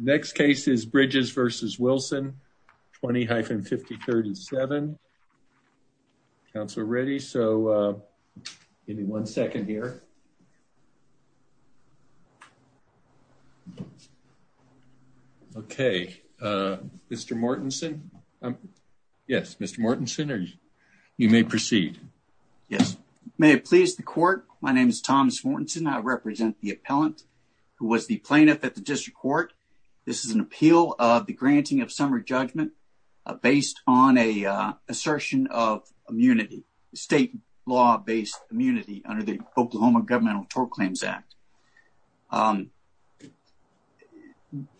Next case is Bridges v. Wilson, 20-53-7. Counselor Reddy, so give me one second here. Okay, Mr. Mortensen. Yes, Mr. Mortensen, you may proceed. Yes, may it please the court. My name is Thomas Mortensen. I represent the appellant who was the plaintiff at the district court. This is an appeal of the granting of summary judgment based on a assertion of immunity, state law-based immunity under the Oklahoma Governmental Tort Claims Act.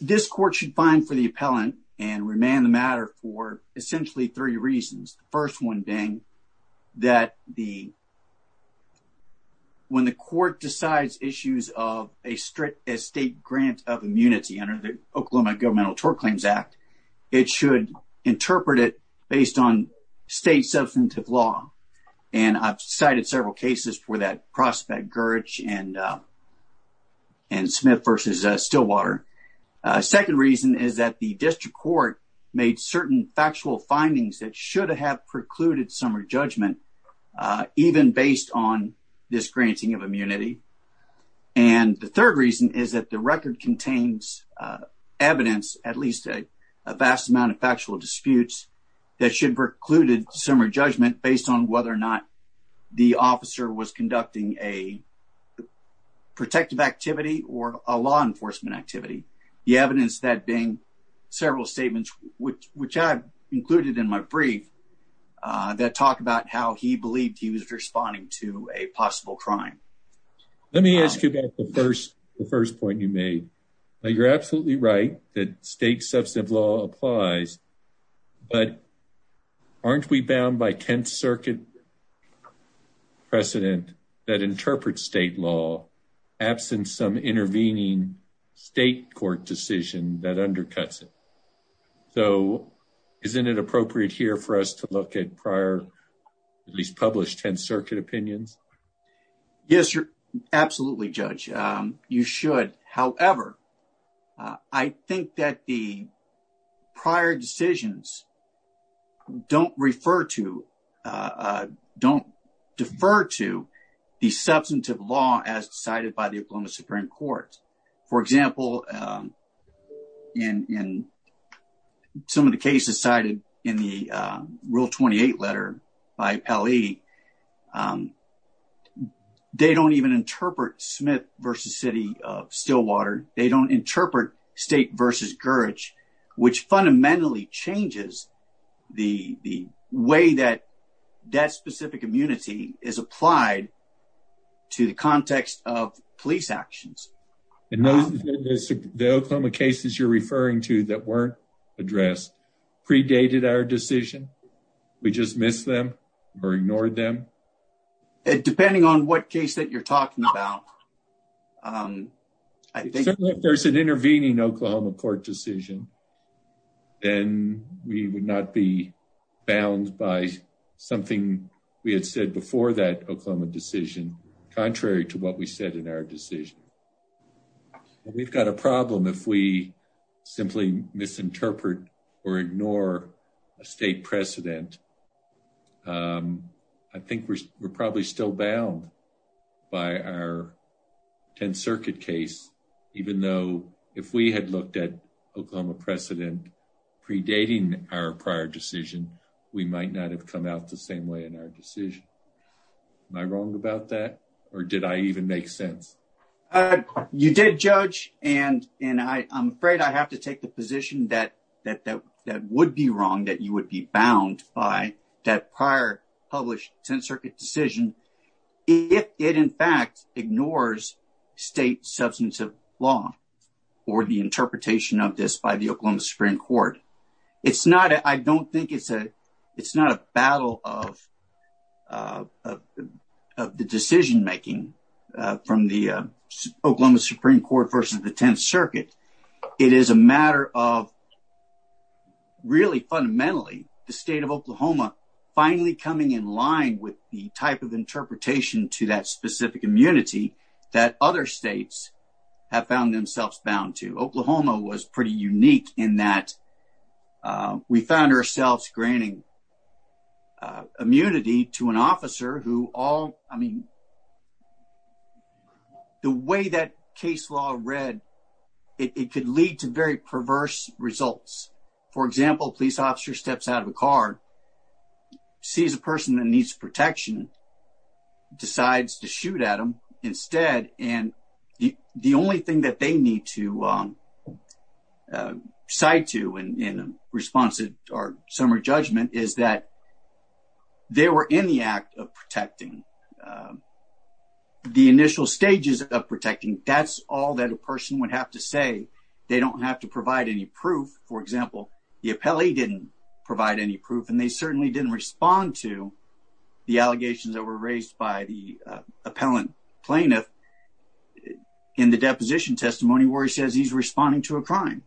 This court should find for the appellant and remand the matter for essentially three reasons. The first one being that when the court decides issues of a state grant of immunity under the Oklahoma Governmental Tort Claims Act, it should interpret it based on state substantive law. And I've cited several cases for that prospect, Gurich and Smith v. Stillwater. The second reason is that the district court made certain factual findings that should have precluded summary judgment even based on this granting of immunity. And the third reason is that the record contains evidence, at least a vast amount of factual disputes, that should have precluded summary judgment based on whether or not the officer was conducting a protective activity or a law enforcement activity. The evidence that being several statements, which I've included in my brief, that talk about how he believed he was responding to a possible crime. Let me ask you about the first point you made. You're absolutely right that state substantive law applies, but aren't we bound by 10th Circuit precedent that interprets state law, absent some intervening state court decision that undercuts it? So isn't it appropriate here for us to look at prior, at least published 10th Circuit opinions? Yes, absolutely, Judge. You should. However, I think that the prior decisions don't refer to, don't defer to the substantive law as decided by the Oklahoma Supreme Court. For example, in some of the cases cited in the Rule 28 letter by L.E., they don't even interpret Smith v. City of Stillwater. They don't interpret State v. Gurich, which fundamentally changes the way that that specific immunity is applied to the context of police actions. And those, the Oklahoma cases you're referring to that weren't addressed, predated our decision? We just missed them or ignored them? Depending on what case that you're talking about. If there's an intervening Oklahoma court decision, then we would not be bound by something we had said before that Oklahoma decision, contrary to what we said in our decision. We've got a problem if we simply misinterpret or ignore a state precedent. I think we're probably still bound by our 10th Circuit case, even though if we had looked at our decision. Am I wrong about that? Or did I even make sense? You did, Judge. And I'm afraid I have to take the position that would be wrong, that you would be bound by that prior published 10th Circuit decision if it in fact ignores state substantive law or the interpretation of this by the Oklahoma Supreme Court. It's not, I don't think it's a, it's not a battle of the decision making from the Oklahoma Supreme Court versus the 10th Circuit. It is a matter of really fundamentally, the state of Oklahoma finally coming in line with the type of interpretation to that specific immunity that other states have found themselves bound to. Oklahoma was pretty unique in that we found ourselves granting immunity to an officer who all, I mean, the way that case law read, it could lead to very perverse results. For example, a police officer steps out of a car, sees a person that needs protection, decides to shoot at them instead. And the only thing that they need to cite to in response to our summary judgment is that they were in the act of protecting. The initial stages of protecting, that's all that a person would have to say. They don't have to provide any proof. For example, the appellee didn't provide any proof, and they certainly didn't respond to the allegations that were raised by the in the deposition testimony where he says he's responding to a crime.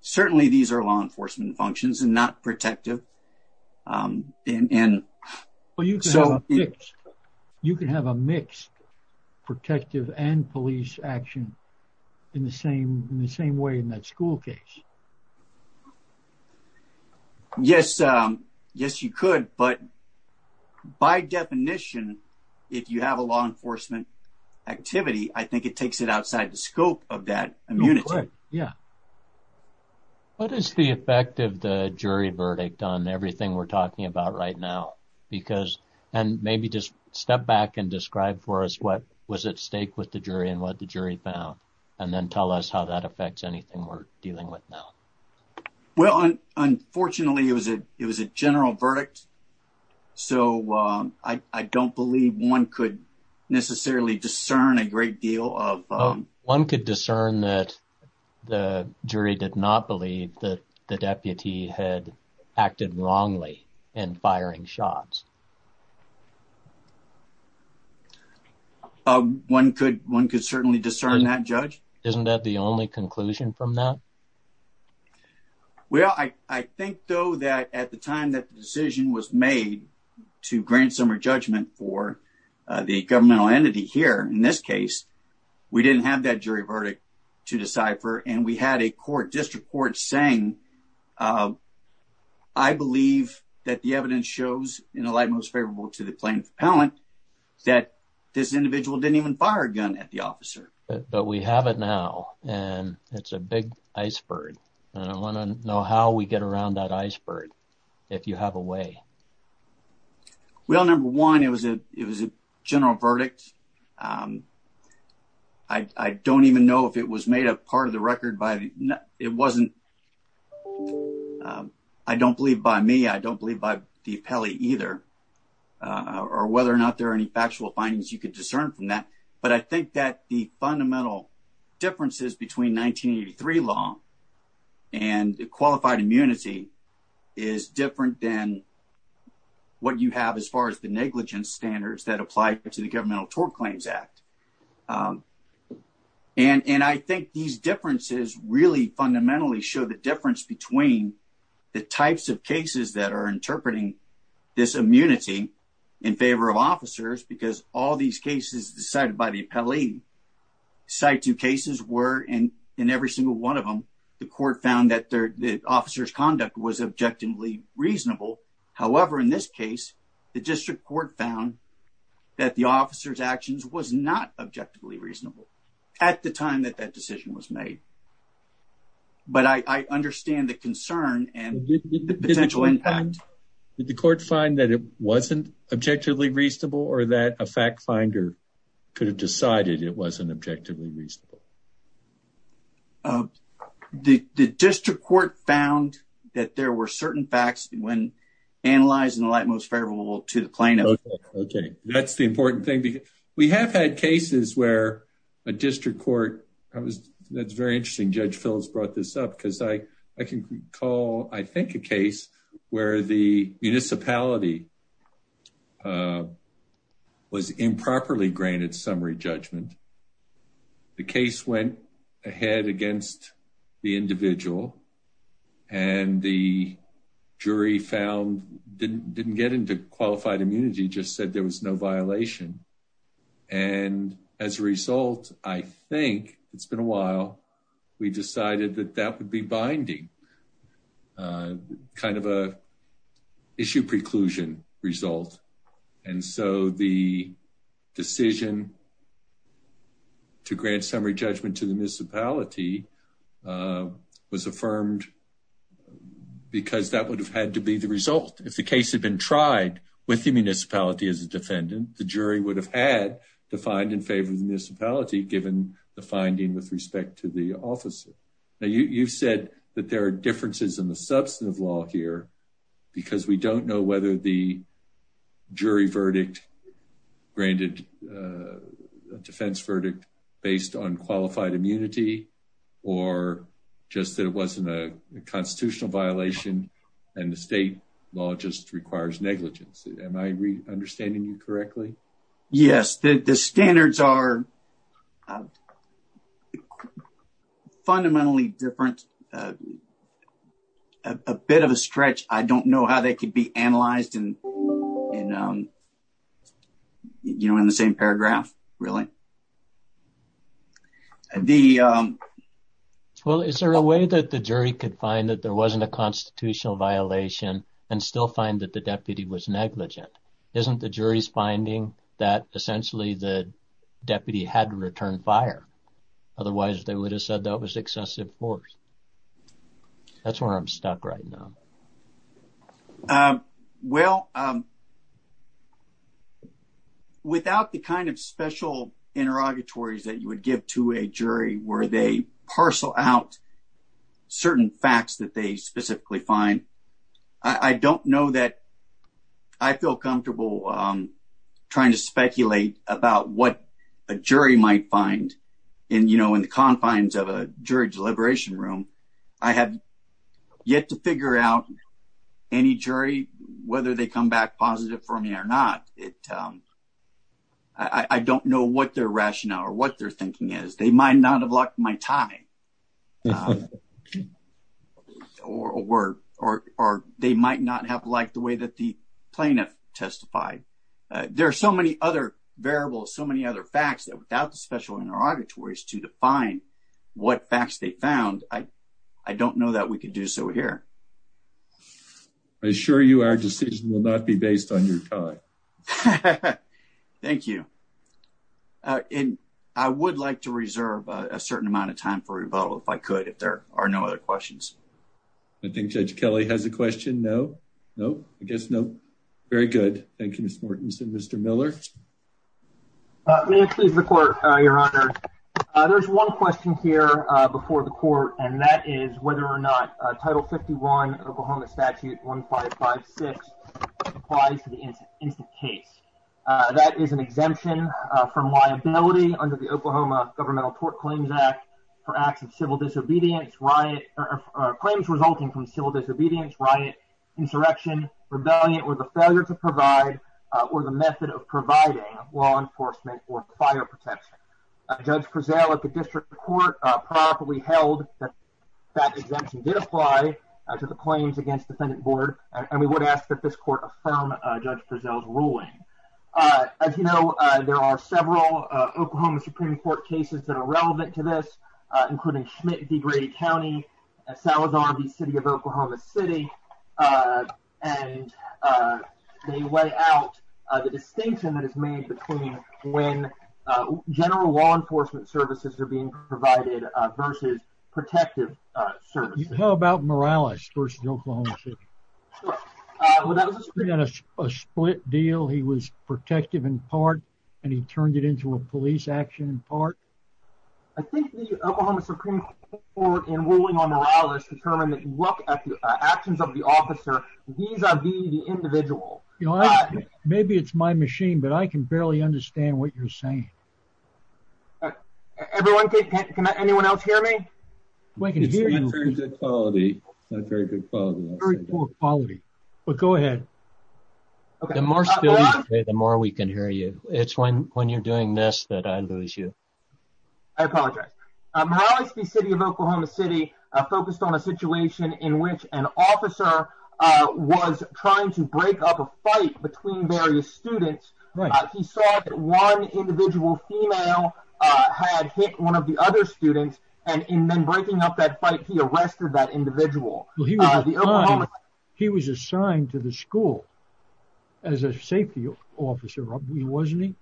Certainly, these are law enforcement functions and not protective. You can have a mixed protective and police action in the same way in that school case. Yes. Yes, you could. But by definition, if you have a law enforcement activity, I think it takes it outside the scope of that immunity. Go ahead. Yeah. What is the effect of the jury verdict on everything we're talking about right now? And maybe just step back and describe for us what was at stake with the jury and what the jury found, and then tell us how that affects anything we're dealing with now. Well, unfortunately, it was a general verdict. So, I don't believe one could necessarily discern a great deal of... One could discern that the jury did not believe that the deputy had acted wrongly in firing shots. One could certainly discern that, Judge. Isn't that the only conclusion from that? Well, I think, though, that at the time that the decision was made to grant summary judgment for the governmental entity here, in this case, we didn't have that jury verdict to decipher. And we had a court, district court, saying, I believe that the evidence shows, in a light most favorable to the plaintiff appellant, that this individual didn't even fire a gun at the officer. But we have it now, and it's a big iceberg. And I want to know how we get around that iceberg, if you have a way. Well, number one, it was a general verdict. I don't even know if it was made a part of the record by... It wasn't... I don't believe by me. I don't believe by the appellee either, or whether or not there are factual findings you can discern from that. But I think that the fundamental differences between 1983 law and qualified immunity is different than what you have as far as the negligence standards that apply to the Governmental Tort Claims Act. And I think these differences really fundamentally show the difference between the types of cases that are interpreting this immunity in favor of officers, because all these cases decided by the appellee, situ cases were, and in every single one of them, the court found that the officer's conduct was objectively reasonable. However, in this case, the district court found that the officer's actions was not objectively reasonable at the time that that decision was made. But I understand the concern and the potential impact. Did the court find that it wasn't objectively reasonable, or that a fact finder could have decided it wasn't objectively reasonable? The district court found that there were certain facts when analyzing the light most favorable to the plaintiff. Okay. That's the important thing. We have had cases where a district court... That's very interesting. Judge Phillips brought this up because I can recall, I think, a case where the municipality was improperly granted summary judgment. The case went ahead against the individual, and the jury found, didn't get into qualified immunity, just said there was no we decided that that would be binding, kind of a issue preclusion result. And so the decision to grant summary judgment to the municipality was affirmed because that would have had to be the result. If the case had been tried with the municipality as a defendant, the jury would have had to find in favor of the municipality given the finding with respect to the officer. Now, you've said that there are differences in the substantive law here because we don't know whether the jury verdict granted a defense verdict based on qualified immunity, or just that it wasn't a constitutional violation and the state law just requires negligence. Am I understanding you correctly? Yes. The standards are fundamentally different. A bit of a stretch. I don't know how they could be analyzed in the same paragraph, really. Well, is there a way that the jury could find that there wasn't a constitutional violation and still find that the deputy was negligent? Isn't the jury's finding that essentially the deputy had to return fire? Otherwise, they would have said that was excessive force. That's where I'm stuck right now. Well, without the kind of special interrogatories that you would give to a jury where they parcel out certain facts that they specifically find, I don't know that I feel comfortable trying to speculate about what a jury might find in the confines of a jury deliberation room. I have yet to figure out any jury, whether they come back positive for me or not. I don't know what their rationale or what their thinking is. They might not have locked my tie. Or they might not have liked the way that the plaintiff testified. There are so many other variables, so many other facts that without the special interrogatories to define what facts they found, I don't know that we could do so here. I assure you our decision will not be based on your tie. Thank you. I would like to reserve a certain amount of time for rebuttal if I could, if there are no other questions. I think Judge Kelly has a question. No? No? I guess no. Very good. Thank you, Mr. Mortensen. Mr. Miller? May it please the court, Your Honor. There's one question here before the court, and that is Title 51, Oklahoma Statute 1556 applies to the instant case. That is an exemption from liability under the Oklahoma Governmental Tort Claims Act for acts of civil disobedience, claims resulting from civil disobedience, riot, insurrection, rebellion, or the failure to provide or the method of providing law enforcement or fire protection. Judge Prezell of the District Court properly held that that exemption did apply to the claims against defendant board, and we would ask that this court affirm Judge Prezell's ruling. As you know, there are several Oklahoma Supreme Court cases that are relevant to this, including Schmidt v. Grady County, Salazar v. City of Oklahoma City, and they lay out the distinction that is made between when general law enforcement services are being provided versus protective services. How about Morales v. Oklahoma City? Well, that was a split deal. He was protective in part, and he turned it into a police action in part. I think the Oklahoma Supreme Court in ruling on Morales determined that you look at the actions of the officer vis-a-vis the individual. You know, maybe it's my machine, but I can barely understand what you're saying. Everyone, can anyone else hear me? It's not very good quality. Very poor quality, but go ahead. The more still you say, the more we can hear you. It's when when you're doing this that I lose you. I apologize. Morales v. City of Oklahoma City focused on a situation in which an officer was trying to break up a fight between various students. He saw that one individual female had hit one of the other students, and in then breaking up that fight, he arrested that individual. He was assigned to the school as a safety officer, wasn't he?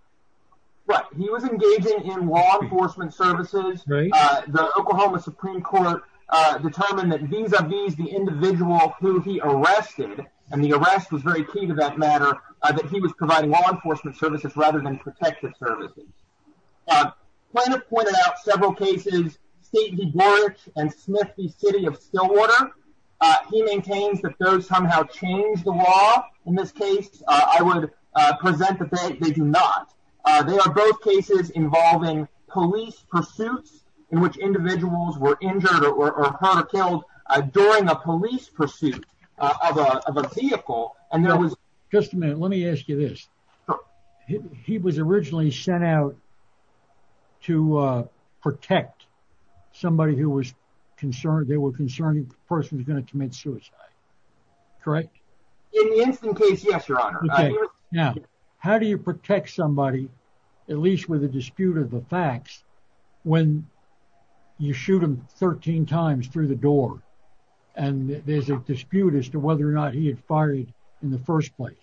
Right. He was engaging in law enforcement services. The Oklahoma Supreme Court determined that vis-a-vis the individual who he arrested, and the arrest was very key to that matter, that he was providing law enforcement services rather than protective services. Plaintiff pointed out several cases, State v. Borich and Smith v. City of Stillwater. He maintains that those somehow changed the law in this case. I would present that they do not. They are both cases involving police pursuits in which individuals were injured or killed during a police pursuit of a vehicle. Just a minute. Let me ask you this. He was originally sent out to protect somebody who was concerned. They were concerned the person was going to commit suicide, correct? In the incident case, yes, your honor. Now, how do you protect somebody, at least with a dispute of the facts, when you shoot him 13 times through the door, and there's a dispute as to whether or not he had fired in the first place?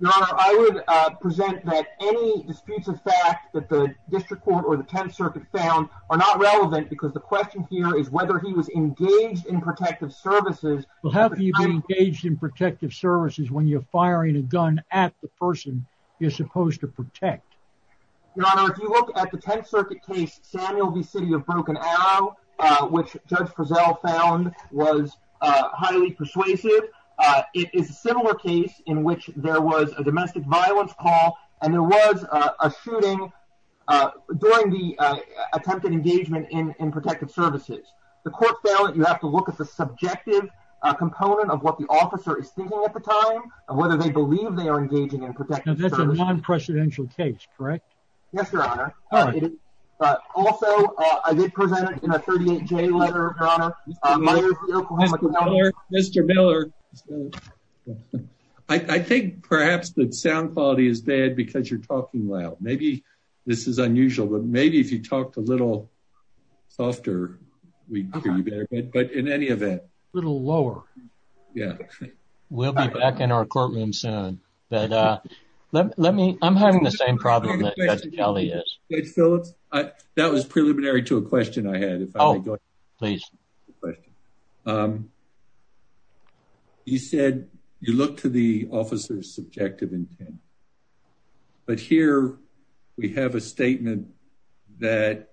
Your honor, I would present that any disputes of fact that the district court or the 10th circuit found are not relevant because the question here is whether he was engaged in protective services. Well, how do you get engaged in protective services when you're supposed to protect? Your honor, if you look at the 10th circuit case, Samuel v. City of Broken Arrow, which Judge Frizzell found was highly persuasive, it is a similar case in which there was a domestic violence call and there was a shooting during the attempted engagement in protective services. The court found that you have to look at the subjective component of what the is. That's a non-presidential case, correct? Yes, your honor. Also, I did present it in a 38-J letter, your honor. Mr. Miller. I think perhaps that sound quality is bad because you're talking loud. Maybe this is unusual, but maybe if you talked a little softer, we'd hear you better, but in any event. A little lower. Yeah. We'll be back in our courtroom soon, but let me, I'm having the same problem that Judge Kelly is. Judge Phillips, that was preliminary to a question I had. Oh, please. You said you look to the officer's subjective intent, but here we have a statement that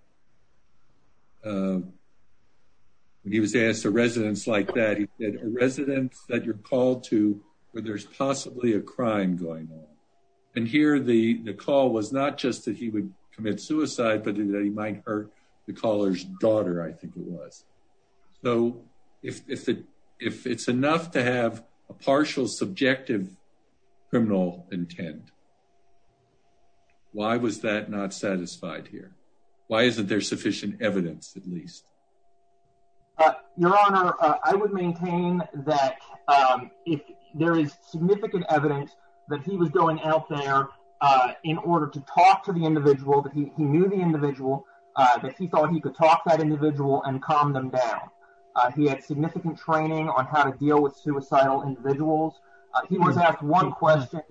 when he was asked, a residence like that, he said, a residence that you're called to where there's possibly a crime going on. And here the call was not just that he would commit suicide, but that he might hurt the caller's daughter, I think it was. So if it's enough to have a partial subjective criminal intent, why was that not satisfied here? Why isn't there sufficient evidence at least? Your honor, I would maintain that if there is significant evidence that he was going out there in order to talk to the individual, that he knew the individual, that he thought he could talk to that individual and calm them down. He had significant training on how to deal with He was asked one question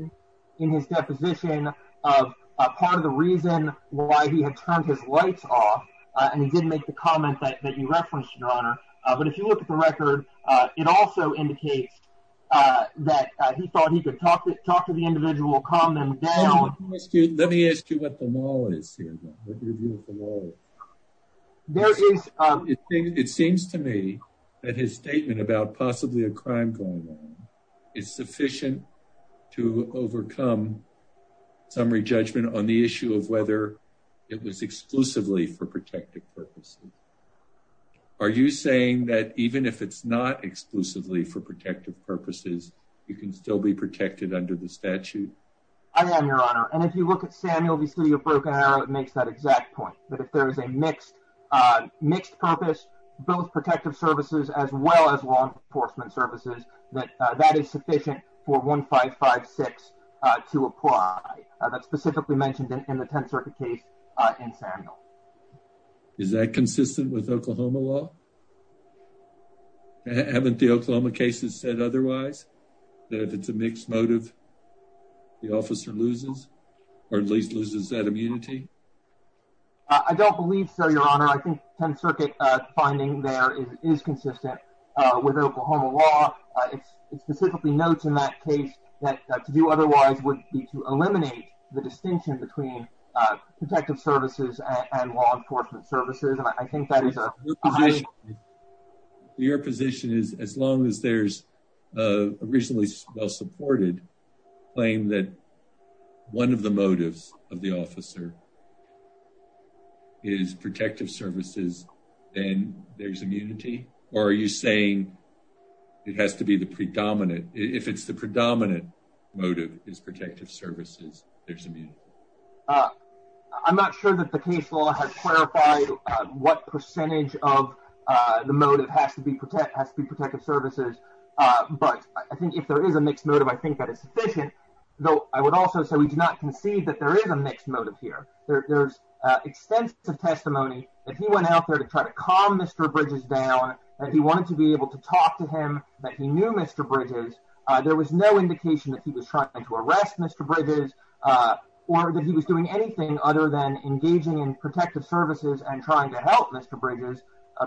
in his deposition of part of the reason why he had turned his lights off, and he didn't make the comment that you referenced, your honor. But if you look at the record, it also indicates that he thought he could talk to the individual, calm them down. Let me ask you what the law is here, what your view of the law is. It seems to me that his sufficient to overcome summary judgment on the issue of whether it was exclusively for protected purposes. Are you saying that even if it's not exclusively for protective purposes, you can still be protected under the statute? I am, your honor. And if you look at Samuel V. Studio Broken Arrow, it makes that exact point that if there is a mixed mixed purpose, both for 1556 to apply. That's specifically mentioned in the 10th Circuit case in Samuel. Is that consistent with Oklahoma law? Haven't the Oklahoma cases said otherwise, that if it's a mixed motive, the officer loses or at least loses that immunity? I don't believe so, your honor. I think 10th that case that to do otherwise would be to eliminate the distinction between protective services and law enforcement services. And I think that is your position is as long as there's originally well supported claim that one of the motives of the officer is protective services, then there's immunity. Or are you saying it has to be the predominant if it's the predominant motive is protective services? There's a beauty. I'm not sure that the case law has clarified what percentage of the motive has to be protect has to be protective services. But I think if there is a mixed motive, I think that is sufficient, though. I would also say we do not concede that there is a mixed motive here. There's extensive testimony that he went out there to try to calm Mr Bridges down that he wanted to be able to talk to him that he knew Mr Bridges. There was no indication that he was trying to arrest Mr Bridges or that he was doing anything other than engaging in protective services and trying to help Mr Bridges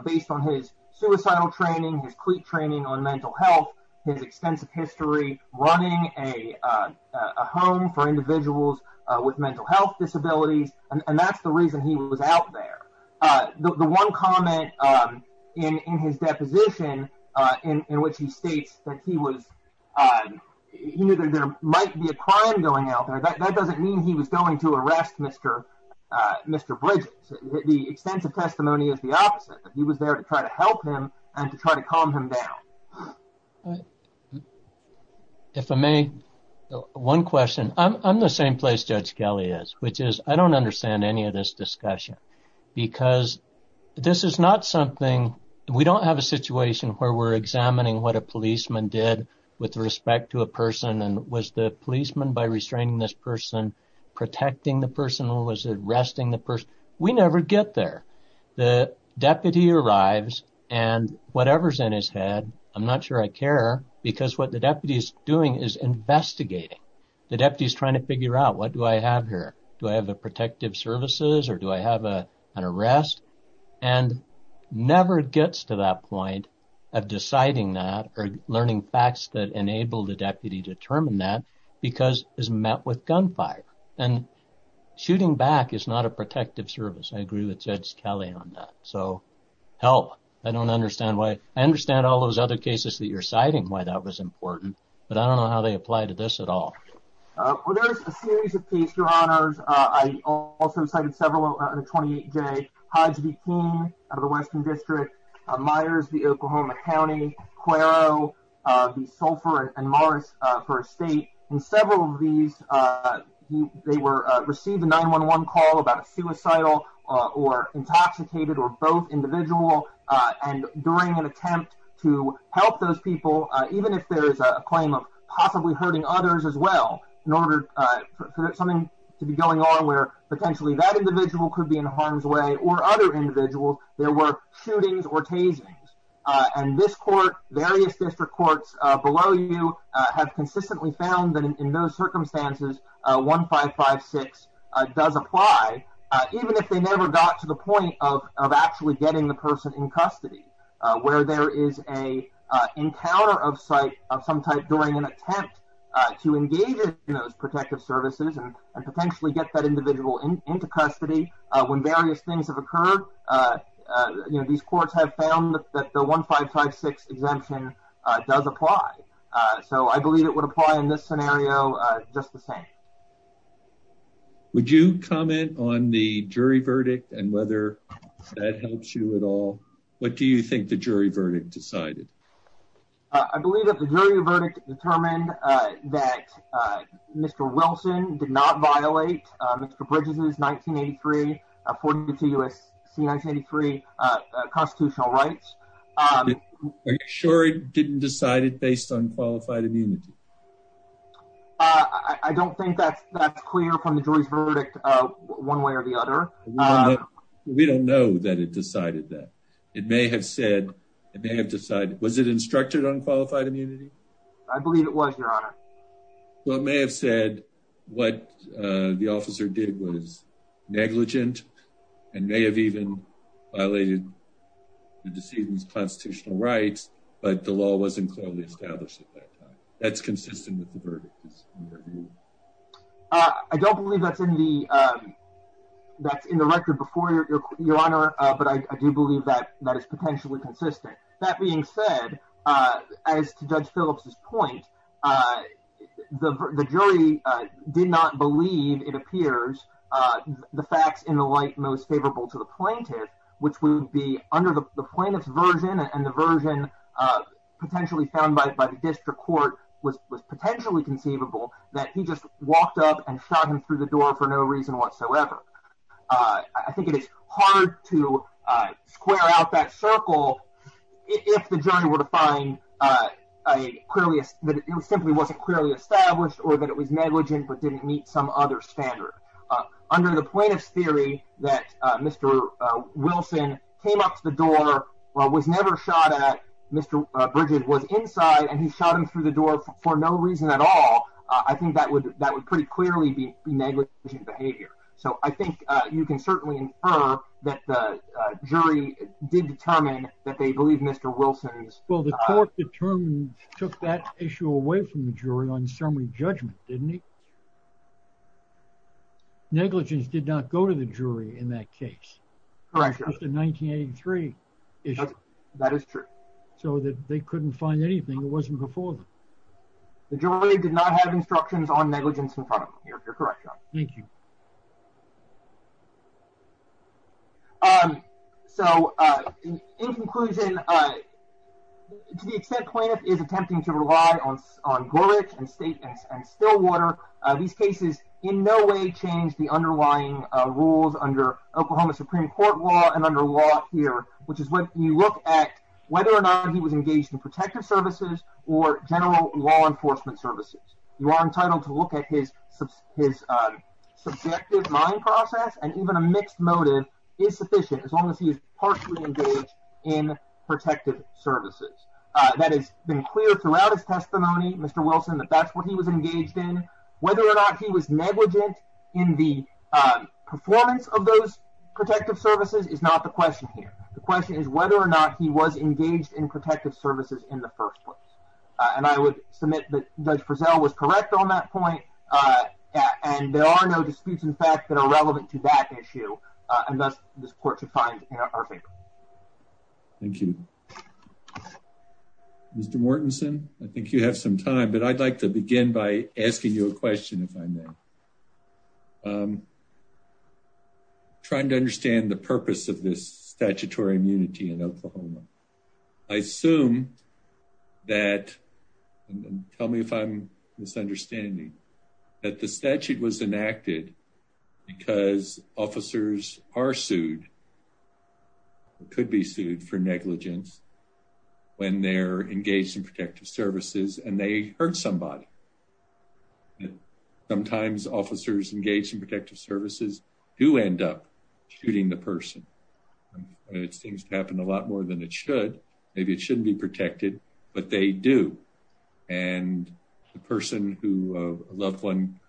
based on his suicidal training, his cleat training on mental health, his extensive history running a home for individuals with mental health disabilities. And that's the reason he was there. The one comment in his deposition in which he states that he was he knew there might be a crime going out there. That doesn't mean he was going to arrest Mr. Mr Bridges. The extensive testimony is the opposite. He was there to try to help him and to try to calm him down. If I may, one question. I'm the same place Judge Kelly is, which is I don't understand any of this discussion because this is not something, we don't have a situation where we're examining what a policeman did with respect to a person and was the policeman by restraining this person protecting the person or was it arresting the person. We never get there. The deputy arrives and whatever's in his head, I'm not sure I care because what the deputy is doing is investigating. The deputy is trying to figure out what do I have here. Do I have the protective services or do I have an arrest? And never gets to that point of deciding that or learning facts that enable the deputy to determine that because it's met with gunfire. And shooting back is not a protective service. I agree with Judge Kelly on that. So, help. I don't understand why. I understand all those other cases that you're citing, why that was important, but I don't know how they apply to this at all. Well, there's a series of cases, your honors. I also cited several in the 28J, Hodge v. Keene of the Western District, Myers v. Oklahoma County, Cuero v. Sulphur and Morris for a state. In several of these, they received a 911 call about a suicidal or intoxicated or both individual. And during an attempt to help those people, even if there's a claim of possibly hurting others as well, in order for something to be going on where potentially that individual could be in harm's way or other individuals, there were shootings or tasings. And this court, various district courts below you, have consistently found that in those circumstances, 1556 does apply, even if they never got to the point of actually getting the person in custody, where there is a encounter of some type during an attempt to engage in those protective services and potentially get that individual into custody. When various things have occurred, you know, these courts have found that the 1556 exemption does apply. So, I believe it would apply in this scenario just the same. Would you comment on the jury verdict and whether that helps you at all? What do you think the jury verdict decided? I believe that the jury verdict determined that Mr. Wilson did not violate Mr. Bridges' 1983, 42 U.S.C. 1983 constitutional rights. Are you sure it didn't decide it based on qualified immunity? I don't think that's clear from the jury's verdict one way or the other. We don't know that it decided that. It may have said, it may have decided, was it instructed on qualified immunity? I believe it was, Your Honor. Well, it may have said what the officer did was negligent and may have even violated the decedent's constitutional rights, but the law wasn't clearly established at that time. That's consistent with the verdict? I don't believe that's in the record before, Your Honor, but I do believe that that is potentially consistent. That being said, as to Judge Phillips' point, the jury did not believe it appears the facts in the light most favorable to the plaintiff, which would be under the plaintiff's version and the version potentially found by the district court was potentially conceivable that he just walked up and shot him through the door for no reason whatsoever. I think it is hard to square out that circle if the jury were to find that it simply wasn't clearly established or that it was negligent but didn't meet some other standard. Under the plaintiff's theory that Mr. Wilson came up to the Mr. Bridges was inside and he shot him through the door for no reason at all, I think that would that would pretty clearly be negligent behavior. So I think you can certainly infer that the jury did determine that they believe Mr. Wilson's... Well, the court determined took that issue away from the jury on summary judgment, didn't it? Negligence did not go to the jury in that case. Correct. It's a 1983 issue. That is true. So that they couldn't find anything. It wasn't before them. The jury did not have instructions on negligence in front of them. You're correct, John. Thank you. So, in conclusion, to the extent plaintiff is attempting to rely on Glorich and State and Stillwater, these cases in no way change the underlying rules under Oklahoma Supreme Court law and under law here, which is what you look at whether or not he was engaged in protective services or general law enforcement services. You are entitled to look at his subjective mind process and even a mixed motive is sufficient as long as he is partially engaged in protective services. That has been clear throughout his testimony, Mr. Wilson, that that's what he was engaged in. Whether or not he was negligent in the performance of those protective services is not the question here. The question is whether or not he was engaged in protective services in the first place. And I would submit that Judge Frizzell was correct on that point. And there are no disputes, in fact, that are relevant to that issue. And thus this to begin by asking you a question, if I may. I'm trying to understand the purpose of this statutory immunity in Oklahoma. I assume that, tell me if I'm misunderstanding, that the statute was enacted because officers are sued, could be sued for negligence, when they're engaged in protective services and they hurt somebody. Sometimes officers engaged in protective services do end up shooting the person. It seems to happen a lot more than it should. Maybe it shouldn't be protected, but they do. And the person who a loved one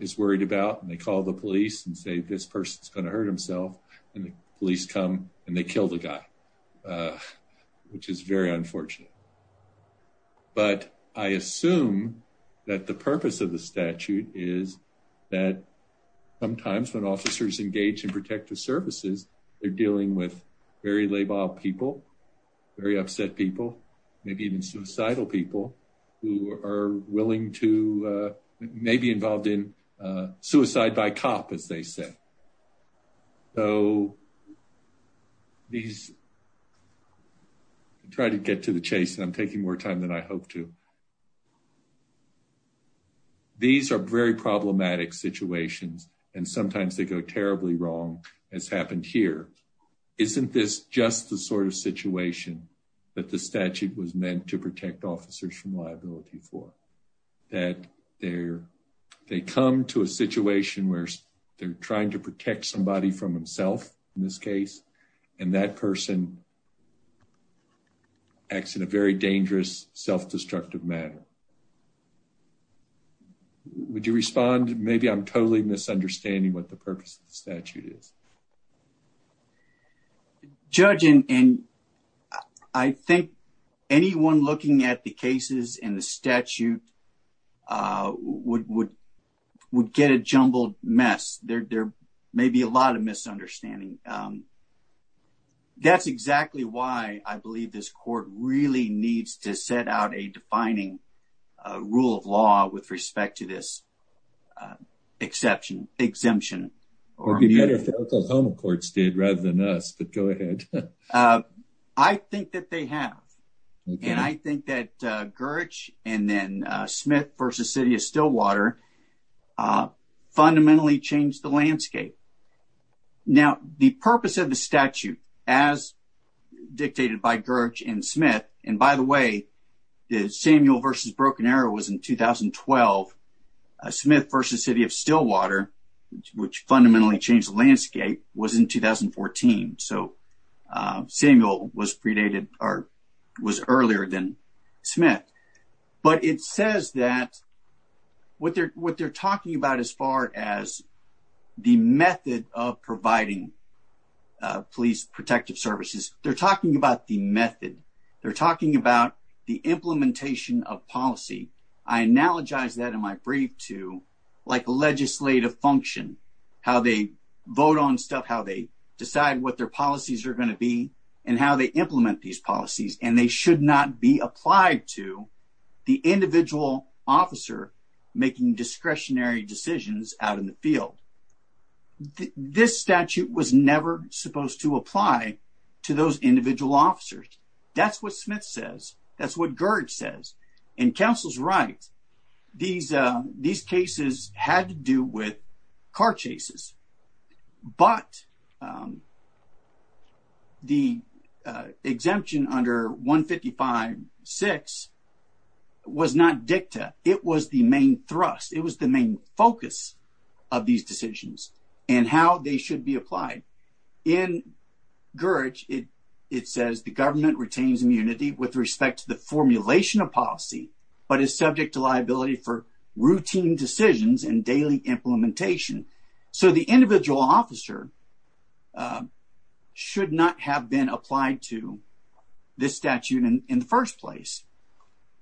is worried about and they call the police and say, this person's going to hurt himself. And the police come and they kill the guy, which is very unfortunate. But I assume that the purpose of the statute is that sometimes when officers engage in protective services, they're dealing with very labile people, very upset people, maybe even suicidal people who are willing to, may be involved in suicide by cop, as they say. So these try to get to the chase and I'm taking more time than I hope to. These are very problematic situations and sometimes they go terribly wrong, as happened here. Isn't this just the sort of situation that the statute was meant to they're trying to protect somebody from himself in this case, and that person acts in a very dangerous, self-destructive manner. Would you respond? Maybe I'm totally misunderstanding what the purpose of the statute is. Judge, and I think anyone looking at the cases in the statute would get a jumbled mess. There may be a lot of misunderstanding. That's exactly why I believe this court really needs to set out a defining rule of law with respect to this exception, exemption. It would be better if the Oklahoma courts did rather than us, but go ahead. I think that they have. And I think that Smith v. City of Stillwater fundamentally changed the landscape. The purpose of the statute, as dictated by Gerge and Smith, and by the way, Samuel v. Broken Arrow was in 2012. Smith v. City of Stillwater, which fundamentally changed the landscape, was in 2014. So Samuel was predated or was earlier than Smith. But it says that what they're talking about as far as the method of providing police protective services, they're talking about the method. They're talking about the implementation of policy. I analogize that in my brief to like legislative function, how they vote on stuff, how they decide what their policies are going to be, and how they implement these policies. And they should not be applied to the individual officer making discretionary decisions out in the field. This statute was never supposed to apply to those individual officers. That's what Smith says. That's what Gerge says. And counsel's right. These cases had to do with car chases. But the exemption under 155.6 was not dicta. It was the main thrust. It was the main focus of these decisions and how they should be applied. In Gerge, it says the government retains immunity with respect to the formulation of policy, but is subject to liability for routine decisions and daily implementation. So the individual officer should not have been applied to this statute in the first place.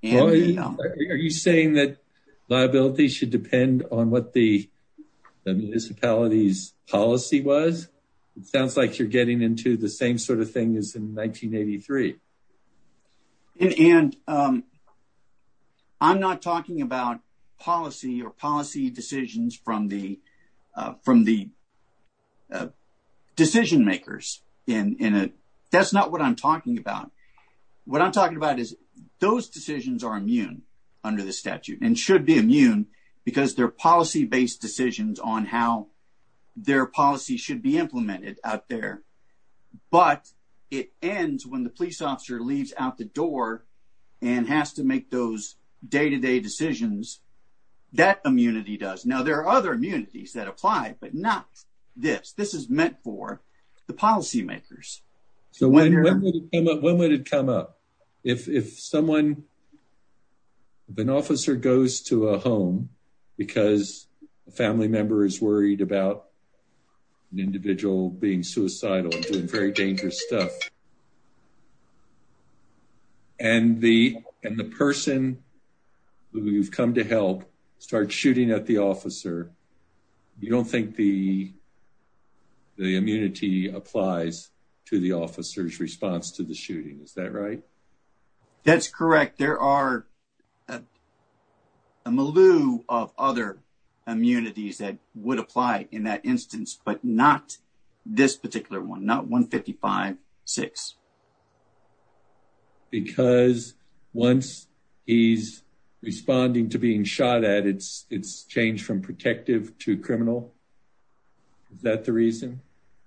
Are you saying that liability should depend on what the municipality's policy was? It sounds like you're getting into the same sort of thing as in 1983. I'm not talking about policy or policy decisions from the decision makers. That's not what I'm talking about. What I'm talking about is those decisions are immune under the statute and should be immune because they're policy-based decisions on how their policy should be implemented out there. But it ends when the police officer leaves out the door and has to make those day-to-day decisions. That immunity does. Now, there are other immunities that apply, but not this. This meant for the policy makers. When would it come up? If an officer goes to a home because a family member is worried about an individual being suicidal and doing very dangerous stuff and the person who you've come to help starts shooting at the officer, you don't think the immunity applies to the officer's response to the shooting, is that right? That's correct. There are a milieu of other immunities that would apply in that instance, but not this particular one, not 155-6. Because once he's responding to being shot at, it's changed from protective to criminal. Is that the reason?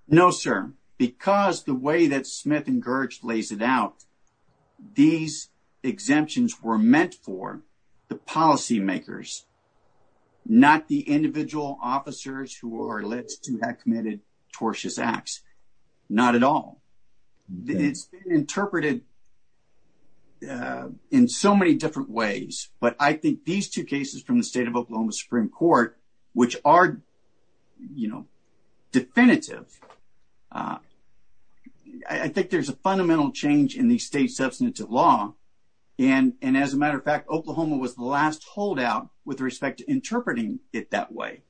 No, sir. Because the way that Smith and Gerge lays it out, these exemptions were meant for the policy makers, not the individual officers who are alleged to have committed tortious acts. Not at all. It's been interpreted in so many different ways, but I think these two cases from the state of Oklahoma Supreme Court, which are definitive, I think there's a fundamental change in the state's substantive law. As a matter of fact, Oklahoma was the last holdout with respect to interpreting it that way.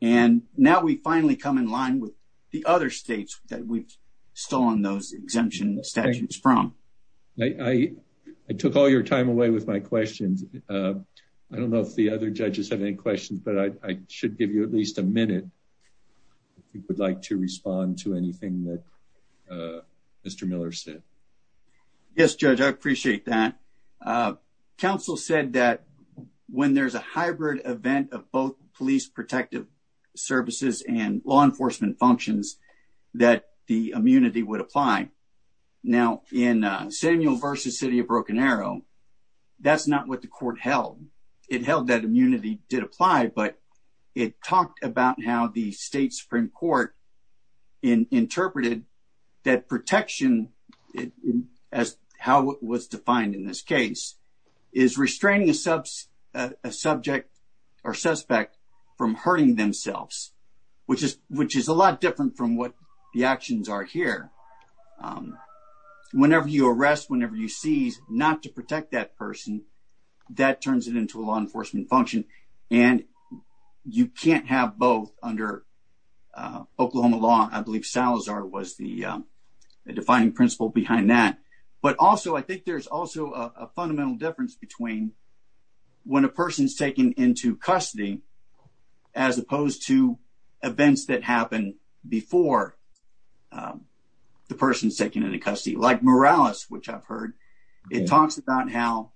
Now, we finally come in line with the other states that we've stolen those exemption statutes from. I took all your time away with my questions. I don't know if the other judges have any questions, but I should give you at least a minute if you would like to respond to anything that Mr. Miller said. Yes, Judge, I appreciate that. Council said that when there's a hybrid event of both police protective services and law immunity would apply. Now, in Samuel v. City of Broken Arrow, that's not what the court held. It held that immunity did apply, but it talked about how the state Supreme Court interpreted that protection as how it was defined in this case is restraining a subject or suspect from hurting themselves, which is a lot different from what the actions are here. Whenever you arrest, whenever you seize, not to protect that person, that turns it into a law enforcement function, and you can't have both under Oklahoma law. I believe Salazar was the defining principle behind that, but also I think there's also a fundamental difference between when a person's taken into custody as opposed to events that happened before the person's taken into custody. Like Morales, which I've heard, it talks about how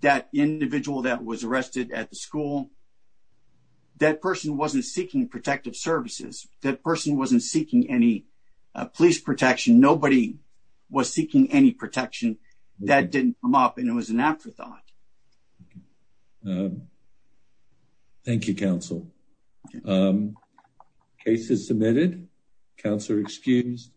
that individual that was arrested at the school, that person wasn't seeking protective services. That person wasn't seeking any police protection. Nobody was seeking any protection that didn't come up, and it was an afterthought. Thank you, counsel. Case is submitted. Counselor excused.